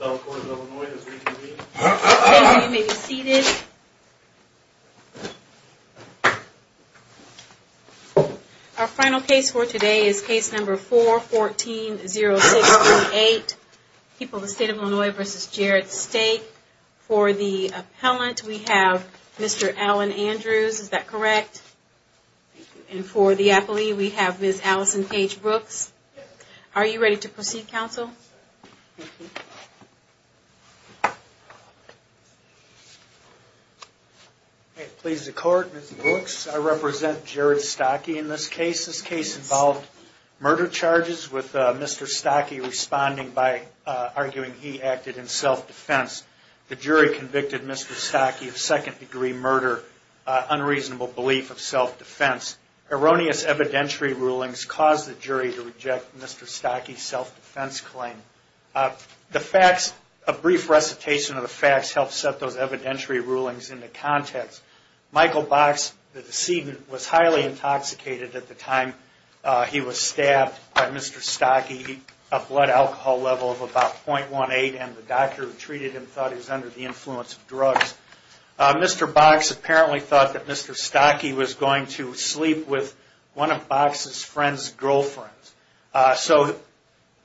Our final case for today is case number 4-14-06-28, People of the State of Illinois v. Jarrett Staake. For the appellant we have Mr. Allen Andrews, is that correct? And for the appellee we have Ms. Alison Paige Brooks. Are you ready to proceed, counsel? Please accord, Ms. Brooks. I represent Jarrett Staake in this case. This case involved murder charges with Mr. Staake responding by arguing he acted in self-defense. The jury convicted Mr. Staake of second-degree murder, unreasonable belief of self-defense. Erroneous evidentiary rulings caused the jury to reject Mr. Staake's self-defense claim. A brief recitation of the facts helped set those evidentiary rulings into context. Michael Box, the decedent, was highly intoxicated at the time he was stabbed by Mr. Staake. He had a blood alcohol level of about .18 and the doctor who treated him thought he was under the influence of drugs. Mr. Box apparently thought that Mr. Staake was going to sleep with one of Box's friend's girlfriends. So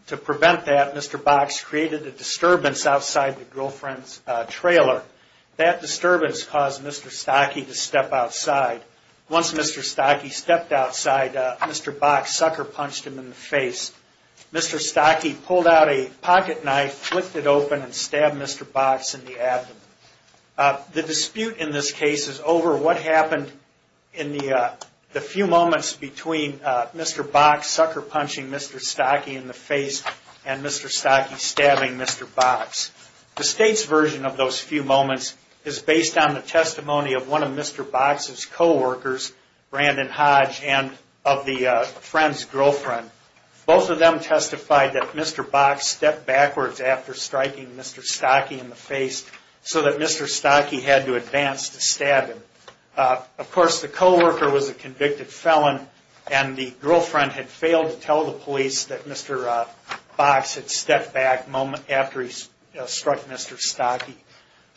to prevent that, Mr. Box created a disturbance outside the girlfriend's trailer. That disturbance caused Mr. Staake to step outside. Once Mr. Staake stepped outside, Mr. Staake pulled out a pocket knife, flicked it open and stabbed Mr. Box in the abdomen. The dispute in this case is over what happened in the few moments between Mr. Box sucker punching Mr. Staake in the face and Mr. Staake stabbing Mr. Box. The state's version of those few moments is based on the testimony of one of Mr. Box's co-workers, Brandon Hodge, and of the friend's girlfriend. Both of them testified that Mr. Box stepped backwards after striking Mr. Staake in the face so that Mr. Staake had to advance to stab him. Of course, the co-worker was a convicted felon and the girlfriend had failed to tell the police that Mr. Box had stepped back a moment after he struck Mr. Staake.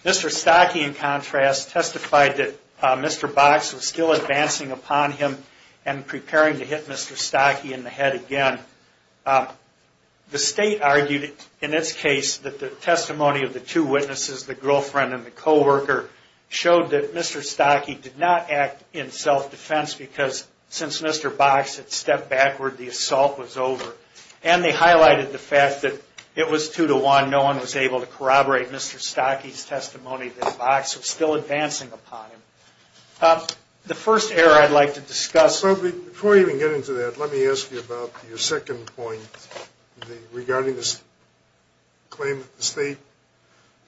Mr. Staake, in contrast, testified that Mr. Box was still advancing upon him and preparing to hit Mr. Staake in the head again. The state argued in this case that the testimony of the two witnesses, the girlfriend and the co-worker, showed that Mr. Staake did not act in self-defense because since Mr. Box had stepped backward, the assault was over. And they highlighted the fact that it was two to one. No advancing upon him. The first error I'd like to discuss... Before we even get into that, let me ask you about your second point regarding this claim that the state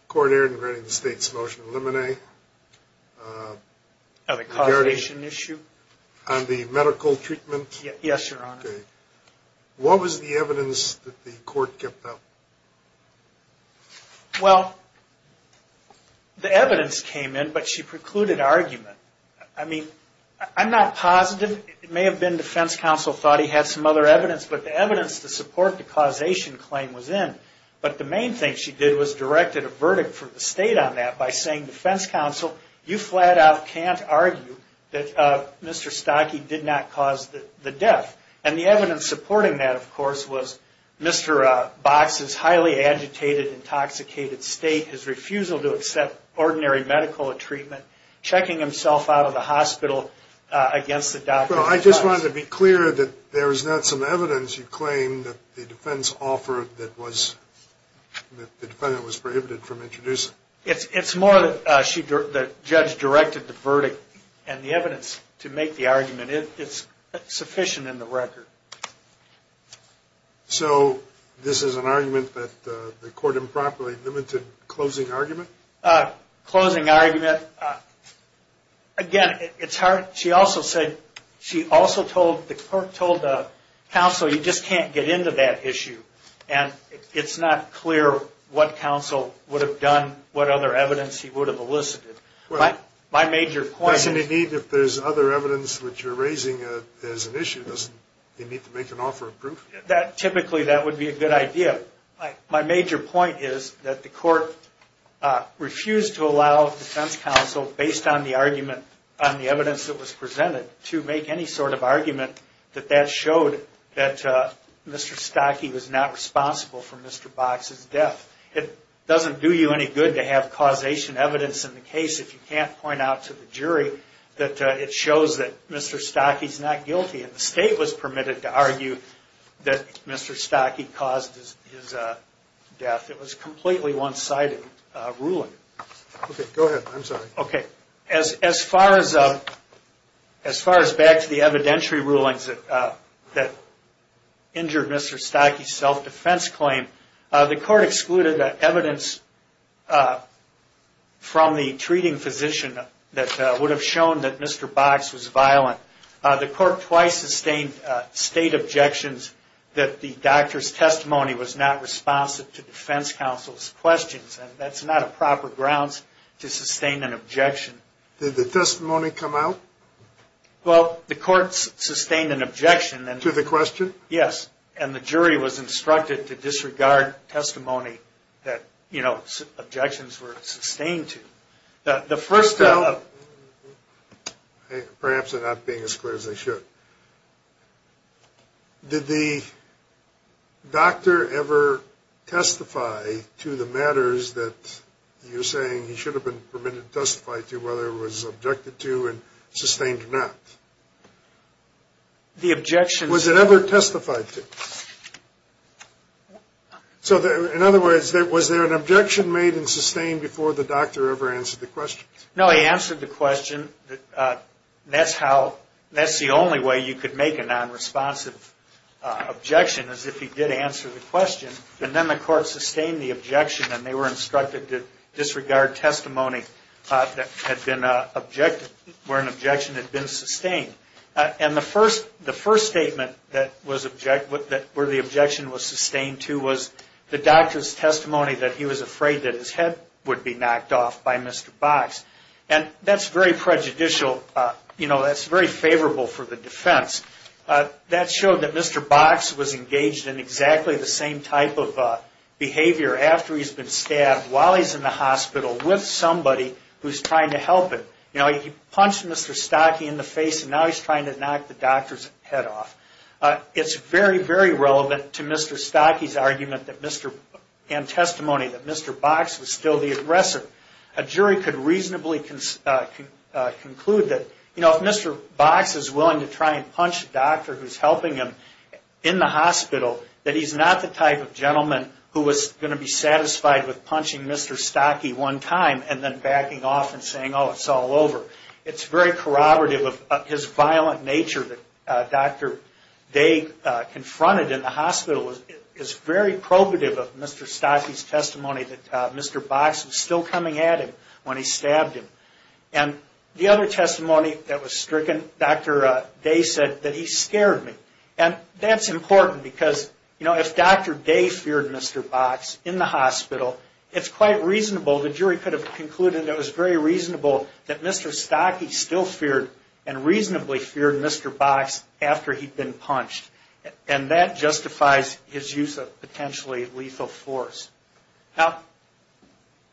court aired regarding the state's motion to eliminate... On the causation issue? On the medical treatment? Yes, Your Honor. What was the evidence that the court kept up? Well, the evidence came in, but she precluded argument. I mean, I'm not positive. It may have been defense counsel thought he had some other evidence, but the evidence to support the causation claim was in. But the main thing she did was directed a verdict for the state on that by saying, defense counsel, you flat out can't argue that Mr. Staake did not cause the death. And the evidence supporting that, of course, was Mr. Box's highly agitated, intoxicated state, his refusal to accept ordinary medical treatment, checking himself out of the hospital against the doctor. I just wanted to be clear that there is not some evidence you claim that the defense offered that was... The defendant was prohibited from introducing. It's more that the judge directed the verdict and the evidence to make the argument. It's sufficient in the record. So this is an argument that the court improperly limited closing argument? Closing argument, again, it's hard. She also said, she also told the court, told the counsel, you just can't get into that issue. And it's not clear what counsel would have done, what other evidence he would have elicited. My major point... Doesn't it need, if there's other evidence which you're raising as an issue, doesn't it need to make an offer of proof? Typically, that would be a good idea. My major point is that the court refused to allow defense counsel, based on the argument, on the evidence that was presented, to make any sort of argument that that showed that Mr. Stockey was not responsible for Mr. Box's death. It doesn't do you any good to have causation evidence in the case if you can't point out to the jury that it shows that Mr. Stockey's not guilty. And the state was permitted to argue that Mr. Stockey caused his death. It was a completely one-sided ruling. Okay, go ahead. I'm sorry. Okay. As far as back to the evidentiary rulings that injured Mr. Stockey's self-defense claim, the court excluded evidence from the treating physician that would have shown that Mr. Box was violent. The court twice sustained state objections that the doctor's testimony was not responsive to defense counsel's questions. And that's not a proper grounds to sustain an objection. Did the testimony come out? Well, the court sustained an objection. To the question? Yes. And the jury was instructed to disregard testimony that, you know, objections were sustained to. The first- Perhaps I'm not being as clear as I should. Did the doctor ever testify to the matters that you're saying he should have been permitted to testify to whether it was objected to and sustained or not? The objection- Was it ever testified to? So, in other words, was there an objection made and sustained before the doctor ever answered the question? No, he answered the question. That's the only way you could make a non-responsive objection is if he did answer the question. And then the court sustained the objection and they were instructed to disregard testimony where an objection had been sustained. And the first statement where the objection was sustained to was the doctor's testimony that he was being knocked off by Mr. Box. And that's very prejudicial, you know, that's very favorable for the defense. That showed that Mr. Box was engaged in exactly the same type of behavior after he's been stabbed while he's in the hospital with somebody who's trying to help him. You know, he punched Mr. Stocke in the face and now he's trying to knock the doctor's head off. It's very, very relevant to Mr. Stocke's argument and testimony that Mr. Box was still the aggressor. A jury could reasonably conclude that, you know, if Mr. Box is willing to try and punch a doctor who's helping him in the hospital, that he's not the type of gentleman who was going to be satisfied with punching Mr. Stocke one time and then backing off and saying, oh, it's all over. It's very corroborative of his violent nature that Dr. Day confronted in the hospital. It's very probative of Mr. Stocke's testimony that Mr. Box was still coming at him when he stabbed him. And the other testimony that was stricken, Dr. Day said that he scared him. And that's important because, you know, if Dr. Day feared Mr. Box in the hospital, it's quite reasonable, the jury could have concluded that it was very reasonable that Mr. Stocke still feared and reasonably feared Mr. Box after he'd been punched. And that justifies his use of potentially lethal force. Now,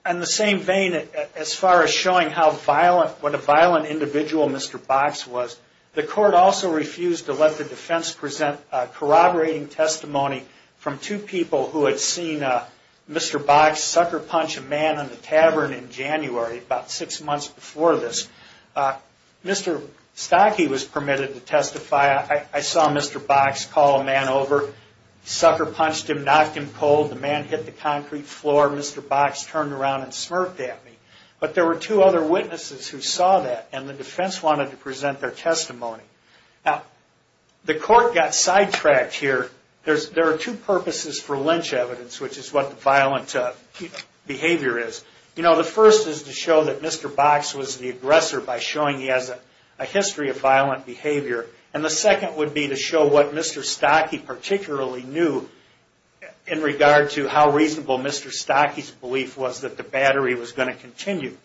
in the same vein, as far as showing how violent, what a violent individual Mr. Box was, the court also refused to let the man in the tavern in January, about six months before this, Mr. Stocke was permitted to testify. I saw Mr. Box call a man over, sucker punched him, knocked him cold, the man hit the concrete floor, Mr. Box turned around and smirked at me. But there were two other witnesses who saw that, and the defense wanted to present their testimony. Now, the court got sidetracked here. There are two purposes for lynch evidence, which is what the violent behavior is. You know, the first is to show that Mr. Box was the aggressor by showing he has a history of violent behavior. And the second would be to show what Mr. Stocke particularly knew in regard to how reasonable Mr. Stocke's belief was that the battery was going to continue.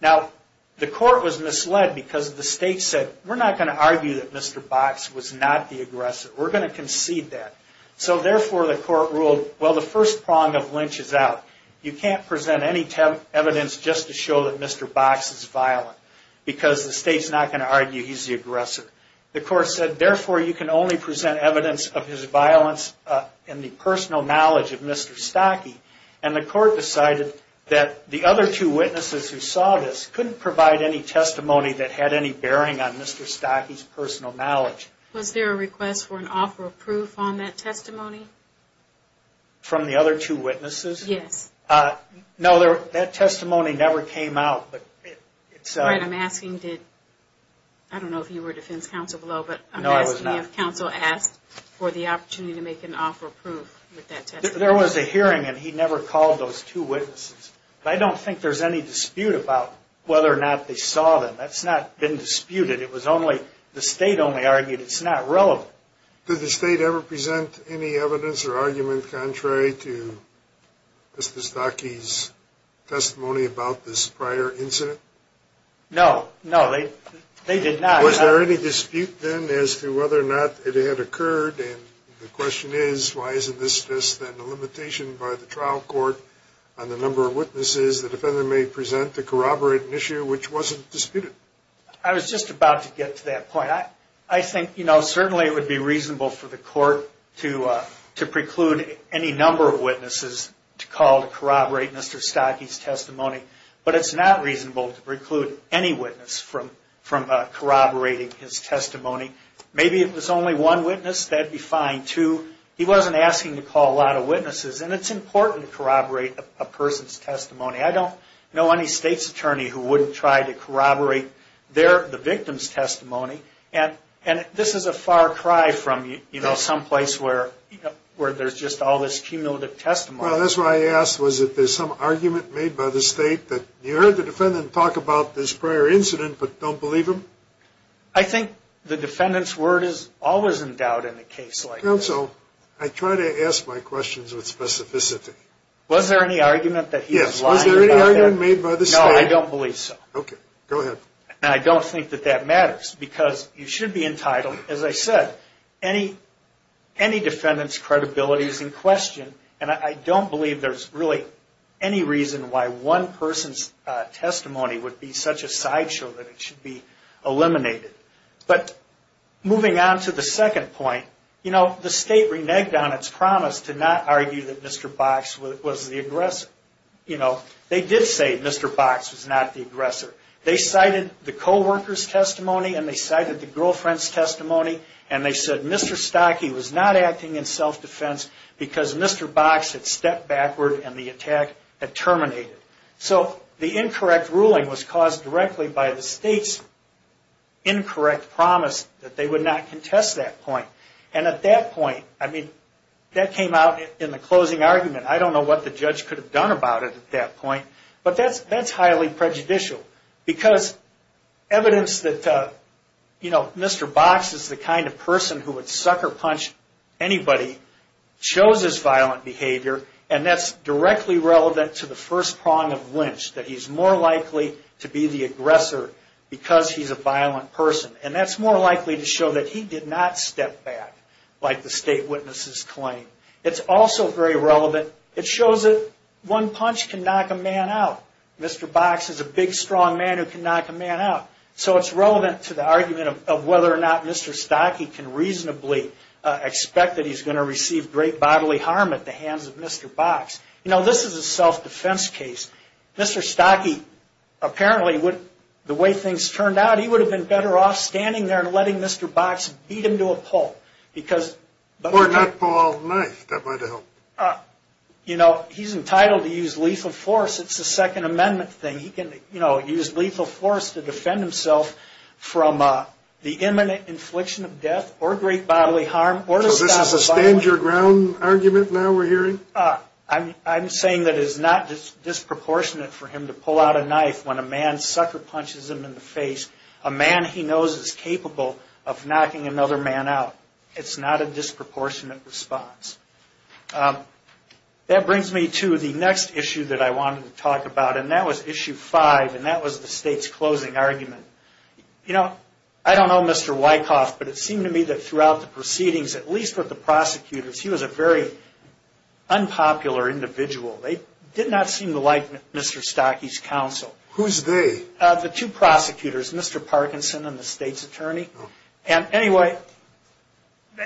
Now, the court was misled because the state said, we're not going to argue that Mr. Box was not the aggressor, we're going to concede that. So therefore, the court ruled, well, the first prong of lynch is out. You can't present any evidence just to show that Mr. Box is violent, because the state's not going to argue he's the aggressor. The court said, therefore, you can only present evidence of his violence in the personal knowledge of Mr. Stocke. And the court decided that the other two witnesses who saw this couldn't provide any testimony that had any bearing on Mr. Stocke's personal knowledge. Was there a request for an offer of proof on that testimony? From the other two witnesses? Yes. No, that testimony never came out. I'm asking, I don't know if you were defense counsel below, but I'm asking if counsel asked for the opportunity to make an offer of proof. There was a hearing and he never called those two witnesses. I don't think there's any dispute about whether or not they saw them. That's not been argued. The state only argued it's not relevant. Did the state ever present any evidence or argument contrary to Mr. Stocke's testimony about this prior incident? No, no, they did not. Was there any dispute then as to whether or not it had occurred? And the question is, why isn't this just then a limitation by the trial court on the number of witnesses the defendant may present to corroborate an issue which wasn't disputed? I was just about to get to that point. I think, you know, certainly it would be reasonable for the court to preclude any number of witnesses to call to corroborate Mr. Stocke's testimony, but it's not reasonable to preclude any witness from corroborating his testimony. Maybe if it was only one witness, that'd be fine too. He wasn't asking to call a lot of witnesses and it's important to corroborate a person's testimony. I don't know any state's attorney who wouldn't try to corroborate their, the victim's testimony, and this is a far cry from, you know, someplace where there's just all this cumulative testimony. Well, that's why I asked, was it there's some argument made by the state that you heard the defendant talk about this prior incident but don't believe him? I think the defendant's word is always in doubt in a case like this. Counsel, I try to ask my questions with specificity. Was there any argument that he was lying about that? Yes, was there any argument made by the state? No, I don't believe so. Okay, go ahead. And I don't think that that matters because you should be entitled, as I said, any defendant's credibility is in question and I don't believe there's really any reason why one person's testimony would be such a sideshow that it should be eliminated. But moving on to the second point, you know, the state reneged on its promise to not argue that Mr. Box was the aggressor. You know, they did say Mr. Box was not the aggressor. They cited the co-worker's testimony and they cited the girlfriend's testimony and they said Mr. Stockie was not acting in self-defense because Mr. Box had stepped backward and the attack had terminated. So the incorrect ruling was caused directly by the state's incorrect promise that they would not contest that point. And at that point, I mean, that came out in the closing argument. I don't know what the judge could have done about it at that point, but that's highly prejudicial because evidence that, you know, Mr. Box is the aggressor because he's a violent person. And that's more likely to show that he did not step back like the state witnesses claim. It's also very relevant. It shows that one punch can knock a man out. Mr. Box is a big, strong man who can knock a man out. So it's relevant to the argument of whether or not Mr. Stockie can reasonably expect that he's going to receive great bodily harm at the hands of Mr. Box. You know, this is a self-defense case. Mr. Stockie, apparently, the way things turned out, he would have been better off standing there and letting Mr. Box beat him to a pulp because... Or not pull out a knife. That might have helped. You know, he's entitled to use lethal force. It's a Second Amendment thing. He can, you know, use lethal force to defend himself from the imminent infliction of death or great bodily harm or to stop a violent... So this is a stand your ground argument now we're hearing? I'm saying that it's not disproportionate for him to pull out a knife when a man sucker punches him in the face. A man he knows is capable of knocking another man out. It's not a disproportionate response. That brings me to the next issue that I wanted to talk about, and that was Issue 5, and that was the state's closing argument. You know, I don't know Mr. Wyckoff, but it seemed to me that throughout the proceedings, at least with the prosecutors, he was a very unpopular individual. They did not seem to like Mr. Stockey's counsel. Who's they? The two prosecutors, Mr. Parkinson and the state's attorney. And anyway,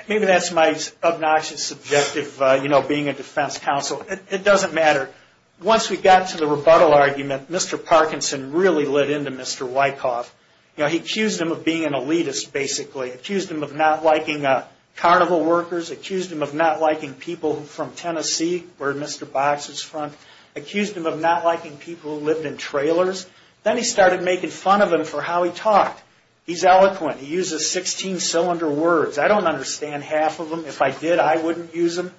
maybe that's my obnoxious subjective, you know, being a defense counsel. It doesn't matter. Once we got to the rebuttal argument, Mr. Parkinson really lit into Mr. Wyckoff. You know, he accused him of being an elitist, basically. Accused him of not liking carnival workers. Accused him of not liking people from Tennessee, where Mr. Box is from. Accused him of not liking people who lived in trailers. Then he started making fun of him for how he talked. He's eloquent. He uses 16-cylinder words. I don't understand half of them. If I did, I wouldn't use them.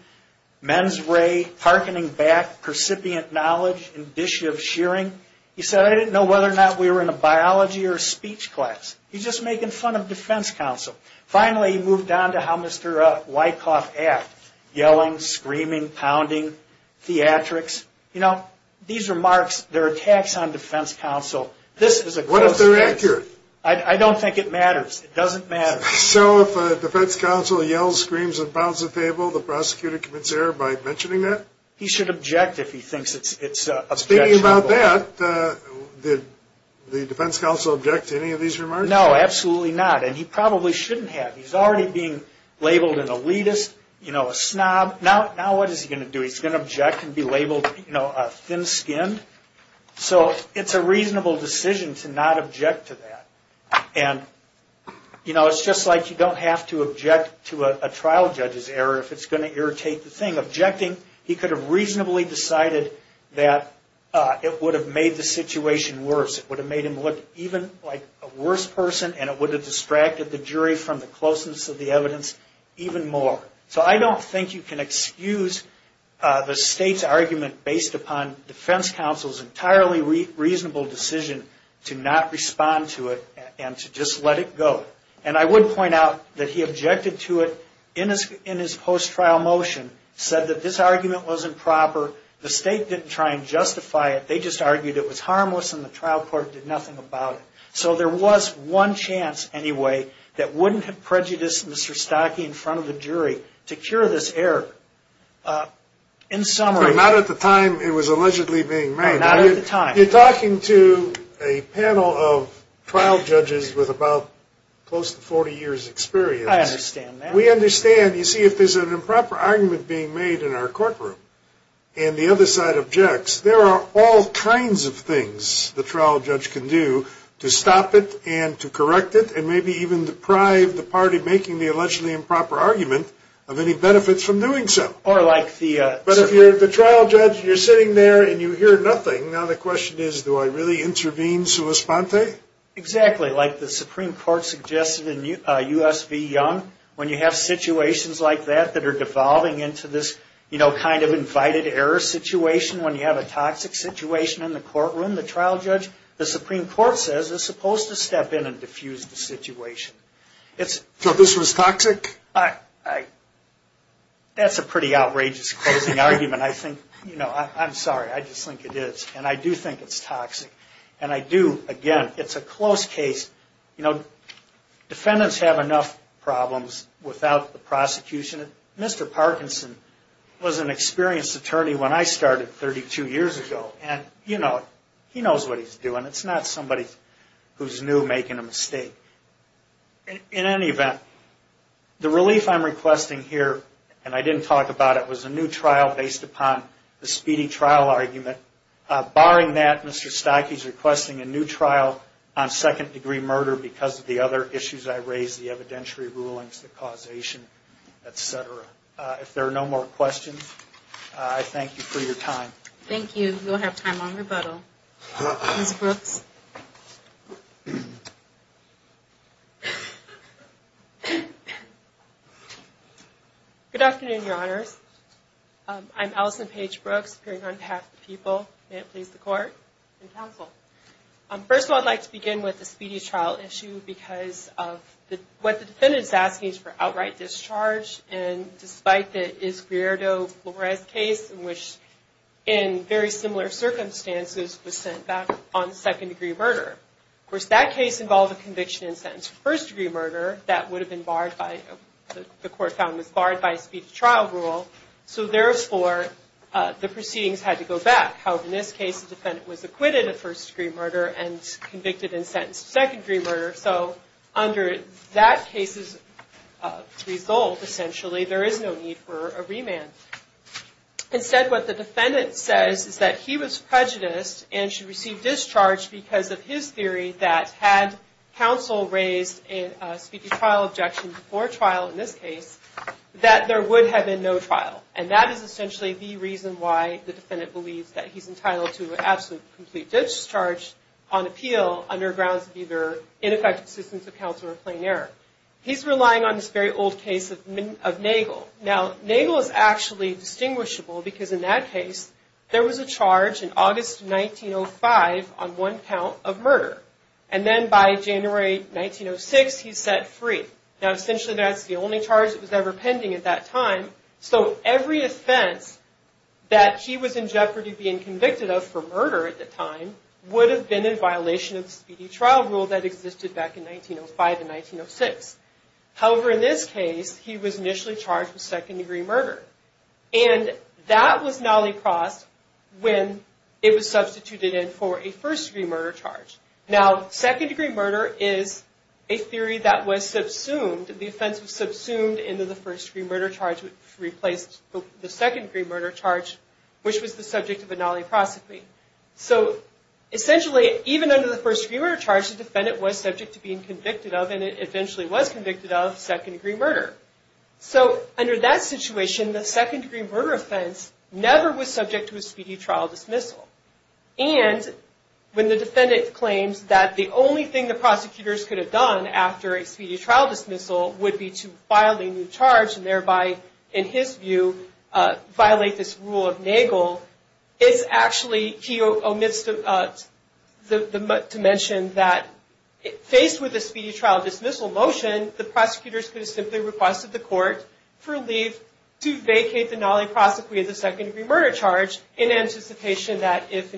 Men's ray, hearkening back, percipient knowledge, indicia of shearing. He said, I didn't know whether or not we were in a biology or a speech class. He's just making fun of defense counsel. Finally, he moved on to how Mr. Wyckoff acted. Yelling, screaming, pounding, theatrics. You know, these remarks, their attacks on defense counsel, this is a close case. What if they're accurate? I don't think it matters. It doesn't matter. So if a defense counsel yells, screams, and pounds the table, the prosecutor commits error by mentioning that? He should object if he thinks it's objectionable. Speaking about that, did the defense counsel object to any of these remarks? No, absolutely not. And he probably shouldn't have. He's already being labeled an elitist, you know, a snob. Now what is he going to do? He's going to object and be labeled a thin-skinned? So it's a reasonable decision to not object to that. And, you know, it's just like you don't have to object to a trial judge's error if it's going to irritate the thing. By objecting, he could have reasonably decided that it would have made the situation worse. It would have made him look even like a worse person, and it would have distracted the jury from the closeness of the evidence even more. So I don't think you can excuse the state's argument based upon defense counsel's entirely reasonable decision to not respond to it and to just let it go. And I would point out that he objected to it in his post-trial motion, said that this argument wasn't proper. The state didn't try and justify it. They just argued it was harmless and the trial court did nothing about it. So there was one chance anyway that wouldn't have prejudiced Mr. Stockey in front of the jury to cure this error. In summary. Not at the time it was allegedly being made. No, not at the time. You're talking to a panel of trial judges with about close to 40 years' experience. I understand that. We understand. You see, if there's an improper argument being made in our courtroom and the other side objects, there are all kinds of things the trial judge can do to stop it and to correct it and maybe even deprive the party making the allegedly improper argument of any benefits from doing so. But if you're the trial judge and you're sitting there and you hear nothing, now the question is, do I really intervene sua sponte? Exactly. Like the Supreme Court suggested in U.S. v. Young, when you have situations like that that are devolving into this kind of invited error situation, when you have a toxic situation in the courtroom, the trial judge, the Supreme Court says is supposed to step in and defuse the situation. So this was toxic? That's a pretty outrageous closing argument. I'm sorry. I just think it is. And I do think it's toxic. And I do, again, it's a close case. Defendants have enough problems without the prosecution. Mr. Parkinson was an experienced attorney when I started 32 years ago, and he knows what he's doing. It's not somebody who's new making a mistake. In any event, the relief I'm requesting here, and I didn't talk about it, was a new trial based upon the speedy trial argument. Barring that, Mr. Stokke is requesting a new trial on second-degree murder because of the other issues I raised, the evidentiary rulings, the causation, et cetera. If there are no more questions, I thank you for your time. Thank you. You'll have time on rebuttal. Ms. Brooks. Good afternoon, Your Honors. I'm Allison Paige Brooks, appearing on behalf of the people. May it please the Court and counsel. First of all, I'd like to begin with the speedy trial issue because of what the defendant is asking is for outright discharge. And despite the Iscrierto-Flores case in which, in very similar circumstances, was sent back on second-degree murder. Of course, that case involved a conviction and sentence for first-degree murder that would have been barred by, the Court found was barred by speedy trial rule. So, therefore, the proceedings had to go back. However, in this case, the defendant was acquitted of first-degree murder and convicted and sentenced to second-degree murder. So, under that case's result, essentially, there is no need for a remand. Instead, what the defendant says is that he was prejudiced and should receive discharge because of his theory that, had counsel raised a speedy trial objection before trial in this case, that there would have been no trial. And that is essentially the reason why the defendant believes that he's entitled to absolute complete discharge on appeal under grounds of either ineffective assistance of counsel or plain error. He's relying on this very old case of Nagel. Now, Nagel is actually distinguishable because, in that case, there was a charge in August 1905 on one count of murder. And then, by January 1906, he's set free. Now, essentially, that's the only charge that was ever pending at that time. So, every offense that he was in jeopardy of being convicted of, for murder at the time, would have been in violation of the speedy trial rule that existed back in 1905 and 1906. However, in this case, he was initially charged with second-degree murder. And that was nolly-crossed when it was substituted in for a first-degree murder charge. Now, second-degree murder is a theory that was subsumed. The offense was subsumed into the first-degree murder charge, which replaced the second-degree murder charge, which was the subject of a nolly prosecuting. So, essentially, even under the first-degree murder charge, the defendant was subject to being convicted of, and eventually was convicted of, second-degree murder. So, under that situation, the second-degree murder offense never was subject to a speedy trial dismissal. And when the defendant claims that the only thing the prosecutors could have done after a speedy trial dismissal would be to file a new charge, and thereby, in his view, violate this rule of Nagel, it's actually, he omits to mention that, faced with a speedy trial dismissal motion, the prosecutors could have simply requested the court for leave to vacate the nolly prosecuting the second-degree murder charge in anticipation that, if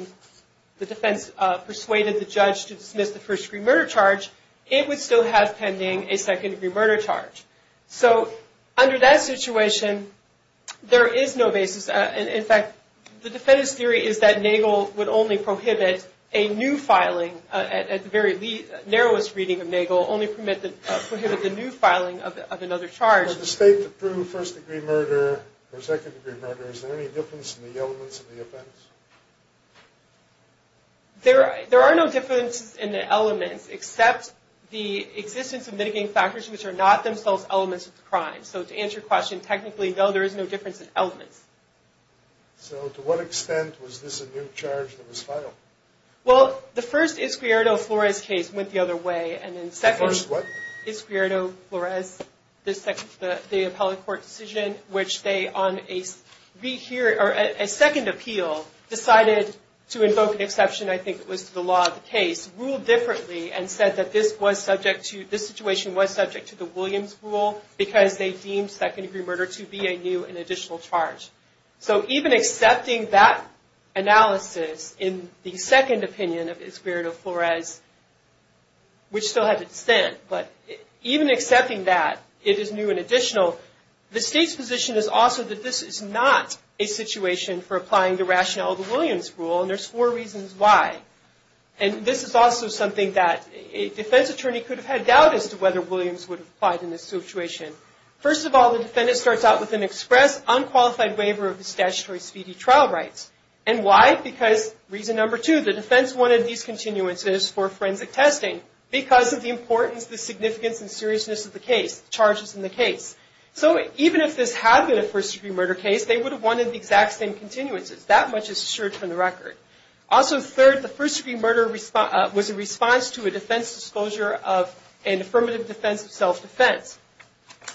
the defense persuaded the judge to dismiss the first-degree murder charge, it would still have pending a second-degree murder charge. So, under that situation, there is no basis. In fact, the defendant's theory is that Nagel would only prohibit a new filing, at the very narrowest reading of Nagel, only prohibit the new filing of another charge. For the state to prove first-degree murder or second-degree murder, is there any difference in the elements of the offense? There are no differences in the elements, except the existence of mitigating factors, which are not themselves elements of the crime. So, to answer your question, technically, no, there is no difference in elements. So, to what extent was this a new charge that was filed? Well, the first Iscrierto Flores case went the other way. The first what? Iscrierto Flores, the appellate court decision, which they, on a second appeal, decided to invoke an exception, I think it was the law of the case, ruled differently and said that this situation was subject to the Williams rule because they deemed second-degree murder to be a new and additional charge. So, even accepting that analysis in the second opinion of Iscrierto Flores, which still had to dissent, but even accepting that it is new and additional, the state's position is also that this is not a situation for applying the rationale of the Williams rule, and there's four reasons why. And this is also something that a defense attorney could have had doubt as to whether Williams would have applied in this situation. First of all, the defendant starts out with an express, unqualified waiver of the statutory speedy trial rights. And why? Because, reason number two, the defense wanted these continuances for forensic testing because of the importance, the significance, and seriousness of the case, the charges in the case. So, even if this had been a first-degree murder case, they would have wanted the exact same continuances. That much is assured from the record. Also, third, the first-degree murder was a response to a defense disclosure of an affirmative defense of self-defense.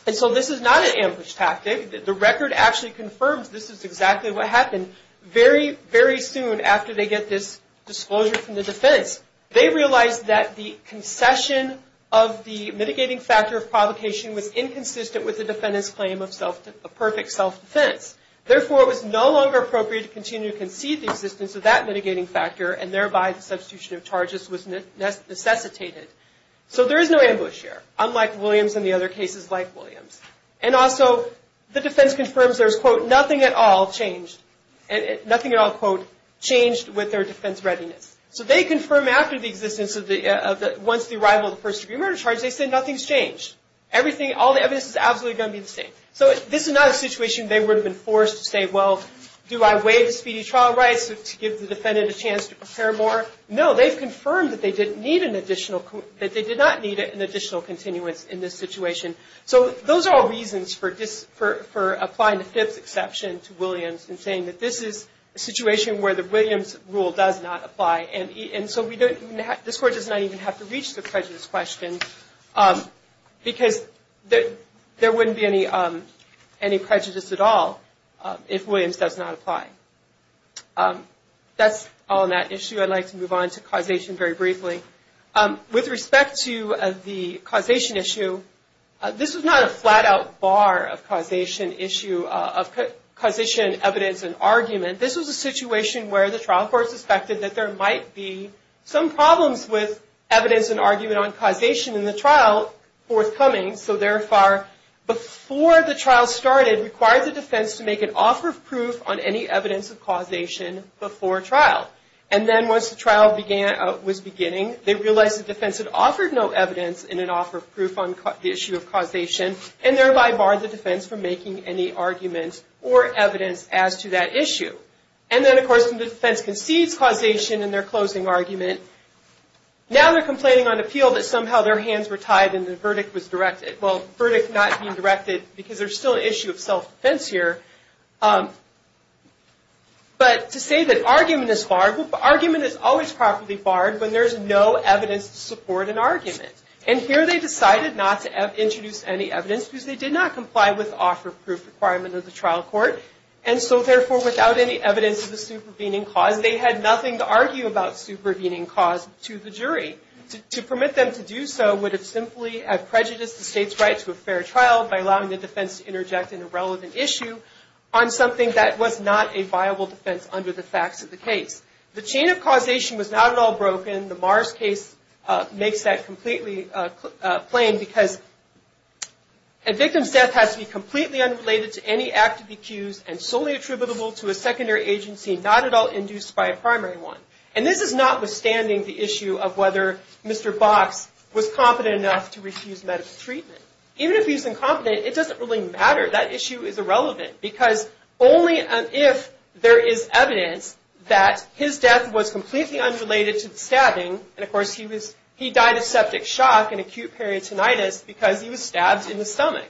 And so, this is not an ambush tactic. The record actually confirms this is exactly what happened. Very, very soon after they get this disclosure from the defense, they realize that the concession of the mitigating factor of provocation was inconsistent with the defendant's claim of a perfect self-defense. Therefore, it was no longer appropriate to continue to concede the existence of that mitigating factor, and thereby the substitution of charges was necessitated. So, there is no ambush here, unlike Williams and the other cases like Williams. And also, the defense confirms there is, quote, nothing at all changed, and nothing at all, quote, changed with their defense readiness. So, they confirm after the existence of the, once the arrival of the first-degree murder charge, they say nothing's changed. Everything, all the evidence is absolutely going to be the same. So, this is not a situation they would have been forced to say, well, do I waive the speedy trial rights to give the defendant a chance to prepare more? No, they've confirmed that they did not need an additional continuance in this situation. So, those are all reasons for applying the fifth exception to Williams and saying that this is a situation where the Williams rule does not apply. And so, this Court does not even have to reach the prejudice question because there wouldn't be any prejudice at all if Williams does not apply. That's all on that issue. I'd like to move on to causation very briefly. With respect to the causation issue, this was not a flat-out bar of causation issue, of causation, evidence, and argument. This was a situation where the trial court suspected that there might be some problems with evidence and there was an argument on causation in the trial forthcoming. So, therefore, before the trial started, it required the defense to make an offer of proof on any evidence of causation before trial. And then, once the trial was beginning, they realized the defense had offered no evidence in an offer of proof on the issue of causation, and thereby barred the defense from making any argument or evidence as to that issue. And then, of course, the defense concedes causation in their closing argument. Now they're complaining on appeal that somehow their hands were tied and the verdict was directed. Well, verdict not being directed because there's still an issue of self-defense here. But to say that argument is barred, well, argument is always properly barred when there's no evidence to support an argument. And here they decided not to introduce any evidence because they did not comply with the offer of proof requirement of the trial court. And so, therefore, without any evidence of the supervening cause, they had nothing to argue about supervening cause to the jury. To permit them to do so would have simply prejudiced the state's right to a fair trial by allowing the defense to interject an irrelevant issue on something that was not a viable defense under the facts of the case. The chain of causation was not at all broken. The Mars case makes that completely plain because a victim's death has to be completely unrelated to any active accused and solely attributable to a secondary agency not at all induced by a primary one. And this is notwithstanding the issue of whether Mr. Box was competent enough to refuse medical treatment. Even if he's incompetent, it doesn't really matter. That issue is irrelevant because only if there is evidence that his death was completely unrelated to the stabbing, and, of course, he died of septic shock and acute peritonitis because he was stabbed in the stomach.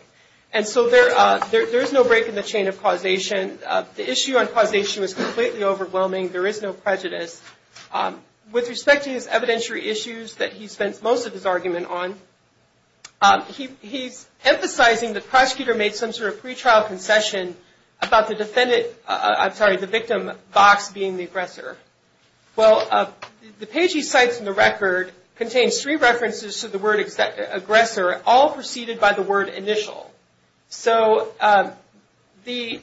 And so there is no break in the chain of causation. The issue on causation was completely overwhelming. There is no prejudice. With respect to his evidentiary issues that he spent most of his argument on, he's emphasizing the prosecutor made some sort of pretrial concession about the victim, Box, being the aggressor. Well, the page he cites in the record contains three references to the word aggressor, all preceded by the word initial. So the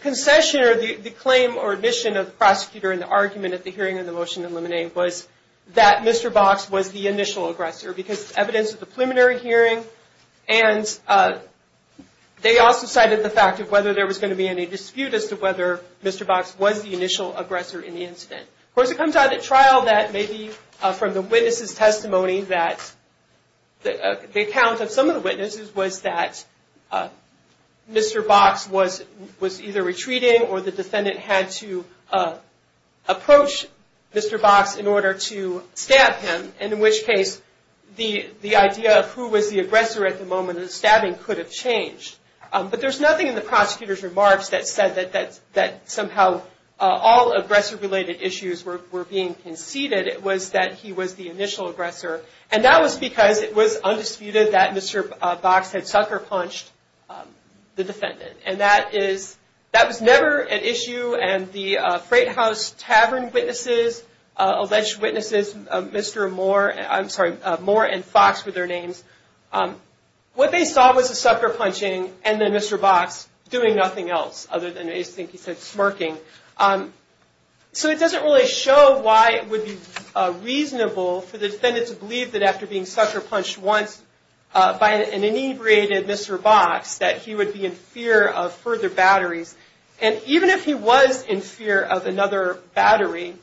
concession or the claim or admission of the prosecutor in the argument at the hearing of the motion to eliminate was that Mr. Box was the initial aggressor because it's evidence of the preliminary hearing. And they also cited the fact of whether there was going to be any dispute as to whether Mr. Box was the initial aggressor in the incident. Of course, it comes out at trial that maybe from the witness's testimony that the account of some of the witnesses was that Mr. Box was either retreating or the defendant had to approach Mr. Box in order to stab him, in which case the idea of who was the aggressor at the moment of the stabbing could have changed. But there's nothing in the prosecutor's remarks that said that somehow all aggressor-related issues were being conceded. It was that he was the initial aggressor. And that was because it was undisputed that Mr. Box had sucker-punched the defendant. And that was never an issue. And the Freight House Tavern witnesses, alleged witnesses, Mr. Moore and Fox were their names. What they saw was the sucker-punching and then Mr. Box doing nothing else other than I think he said smirking. So it doesn't really show why it would be reasonable for the defendant to believe that after being sucker-punched once by an inebriated Mr. Box, that he would be in fear of further batteries. And even if he was in fear of another battery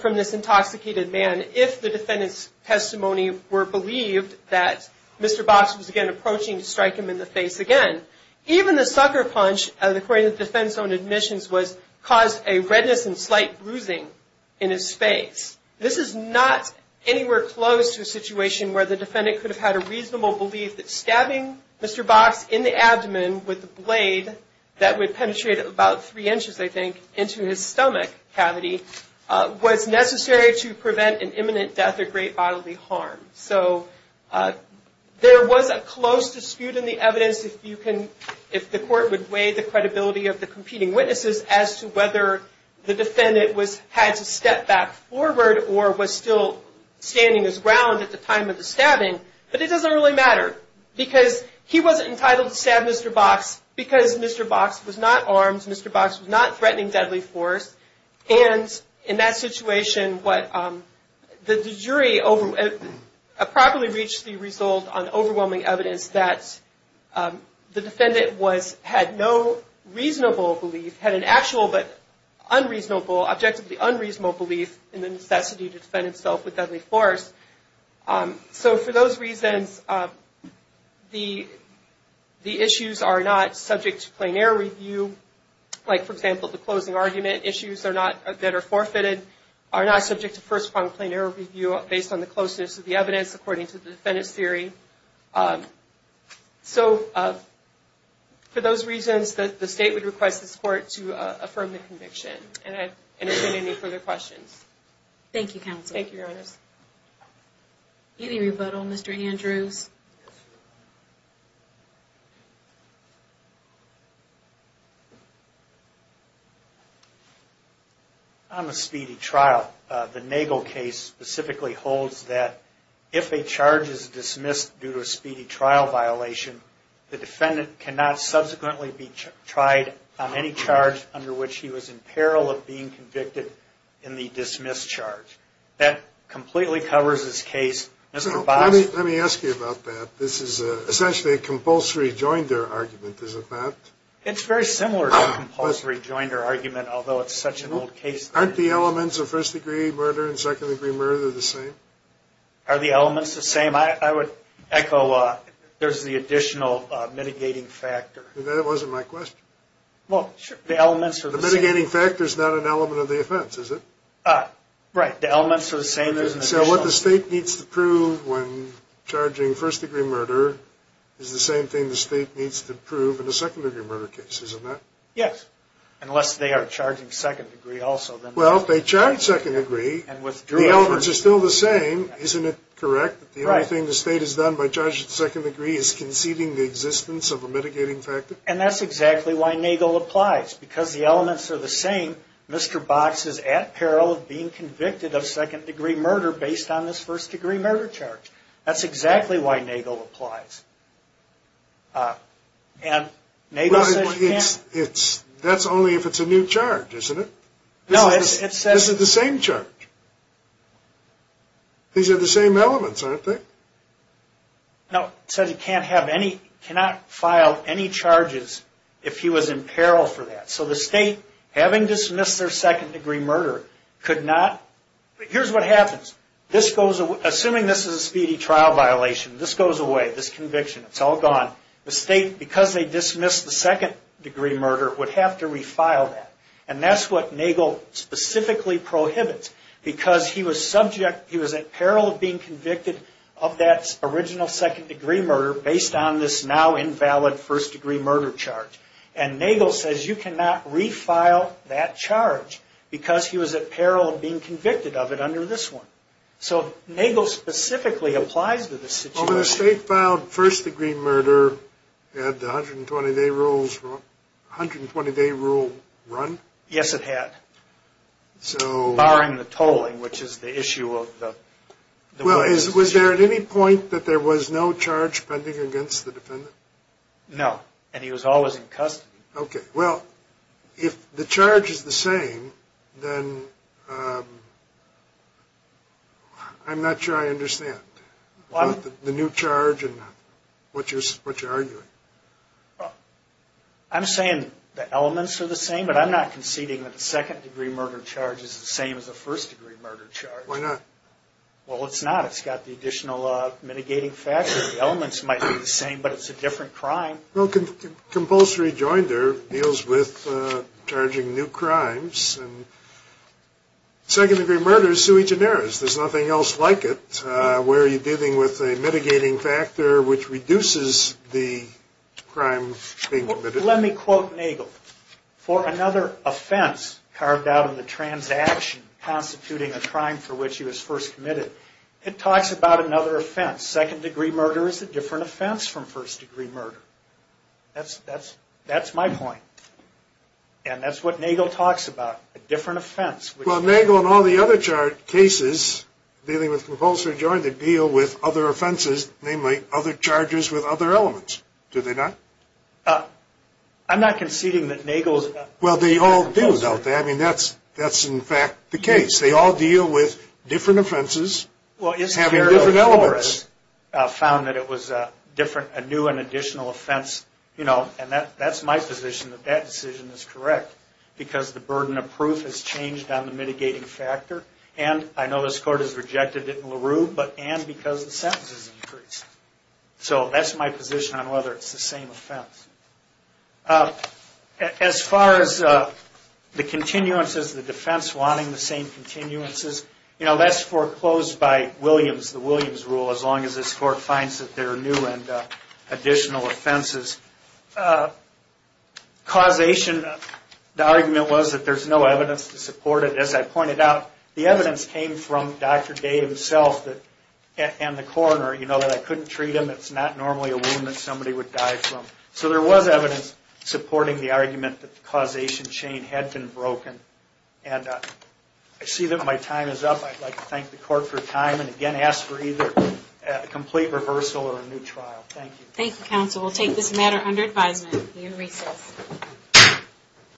from this intoxicated man, if the defendant's testimony were believed that Mr. Box was again approaching to strike him in the face again, even the sucker-punch, according to the defendant's own admissions, caused a redness and slight bruising in his face. This is not anywhere close to a situation where the defendant could have had a reasonable belief that stabbing Mr. Box in the abdomen with a blade that would penetrate about three inches, I think, into his stomach cavity was necessary to prevent an imminent death or great bodily harm. So there was a close dispute in the evidence if the court would weigh the credibility of the competing witnesses as to whether the defendant had to step back forward or was still standing his ground at the time of the stabbing. But it doesn't really matter because he wasn't entitled to stab Mr. Box because Mr. Box was not armed. Mr. Box was not threatening deadly force. And in that situation, the jury properly reached the result on overwhelming evidence that the defendant had no reasonable belief, had an actual but unreasonable, objectively unreasonable belief in the necessity to defend himself with deadly force. So for those reasons, the issues are not subject to plain error review. Like, for example, the closing argument issues that are forfeited are not subject to first-pronged plain error review based on the closeness of the evidence, according to the defendant's theory. So for those reasons, the State would request this Court to affirm the conviction. And I don't see any further questions. Thank you, Counsel. Thank you, Your Honors. Any rebuttal, Mr. Andrews? On the speedy trial, the Nagel case specifically holds that if a charge is dismissed due to a speedy trial violation, the defendant cannot subsequently be tried on any charge under which he was in peril of being convicted in the dismissed charge. That completely covers this case. Let me ask you about that. This is essentially a compulsory joinder argument, is it not? It's very similar to a compulsory joinder argument, although it's such an old case. Aren't the elements of first-degree murder and second-degree murder the same? Are the elements the same? I would echo there's the additional mitigating factor. That wasn't my question. Well, sure. The elements are the same. The mitigating factor is not an element of the offense, is it? Right. The elements are the same. So what the State needs to prove when charging first-degree murder is the same thing the State needs to prove in a second-degree murder case, is it not? Yes, unless they are charging second-degree also. Well, if they charge second-degree, the elements are still the same. Isn't it correct that the only thing the State has done by charging second-degree is conceding the existence of a mitigating factor? And that's exactly why Nagel applies. Because the elements are the same, Mr. Box is at peril of being convicted of second-degree murder based on this first-degree murder charge. That's exactly why Nagel applies. And Nagel says you can't. Well, that's only if it's a new charge, isn't it? No, it says. This is the same charge. These are the same elements, aren't they? No, it says he cannot file any charges if he was in peril for that. So the State, having dismissed their second-degree murder, could not. Here's what happens. Assuming this is a speedy trial violation, this goes away, this conviction, it's all gone. The State, because they dismissed the second-degree murder, would have to refile that. And that's what Nagel specifically prohibits. Because he was at peril of being convicted of that original second-degree murder based on this now-invalid first-degree murder charge. And Nagel says you cannot refile that charge because he was at peril of being convicted of it under this one. So Nagel specifically applies to this situation. Well, when the State filed first-degree murder, had the 120-day rule run? Yes, it had. Barring the tolling, which is the issue of the way it was issued. Well, was there at any point that there was no charge pending against the defendant? No. And he was always in custody. Okay. Well, if the charge is the same, then I'm not sure I understand the new charge and what you're arguing. I'm saying the elements are the same, but I'm not conceding that the second-degree murder charge is the same as the first-degree murder charge. Why not? Well, it's not. It's got the additional mitigating factors. The elements might be the same, but it's a different crime. Well, compulsory rejoinder deals with charging new crimes. And second-degree murder is sui generis. There's nothing else like it. Where you're dealing with a mitigating factor which reduces the crime being committed. Let me quote Nagel. For another offense carved out of the transaction constituting a crime for which he was first committed, it talks about another offense. Second-degree murder is a different offense from first-degree murder. That's my point. And that's what Nagel talks about, a different offense. Well, Nagel and all the other cases dealing with compulsory rejoinder deal with other offenses, namely other charges with other elements. Do they not? I'm not conceding that Nagel is not. Well, they all do, don't they? I mean, that's, in fact, the case. They all deal with different offenses having different elements. Well, it's carried over as found that it was a new and additional offense. And that's my position, that that decision is correct. Because the burden of proof has changed on the mitigating factor. And I know this Court has rejected it in LaRue, but and because the sentences increased. So that's my position on whether it's the same offense. As far as the continuances, the defense wanting the same continuances, that's foreclosed by Williams, the Williams rule, as long as this Court finds that they're new and additional offenses. Causation, the argument was that there's no evidence to support it. As I pointed out, the evidence came from Dr. Day himself and the coroner. You know that I couldn't treat him. It's not normally a wound that somebody would die from. So there was evidence supporting the argument that the causation chain had been broken. And I see that my time is up. I'd like to thank the Court for time and again ask for either a complete reversal or a new trial. Thank you. Thank you, counsel. We'll take this matter under advisement. We are recessed.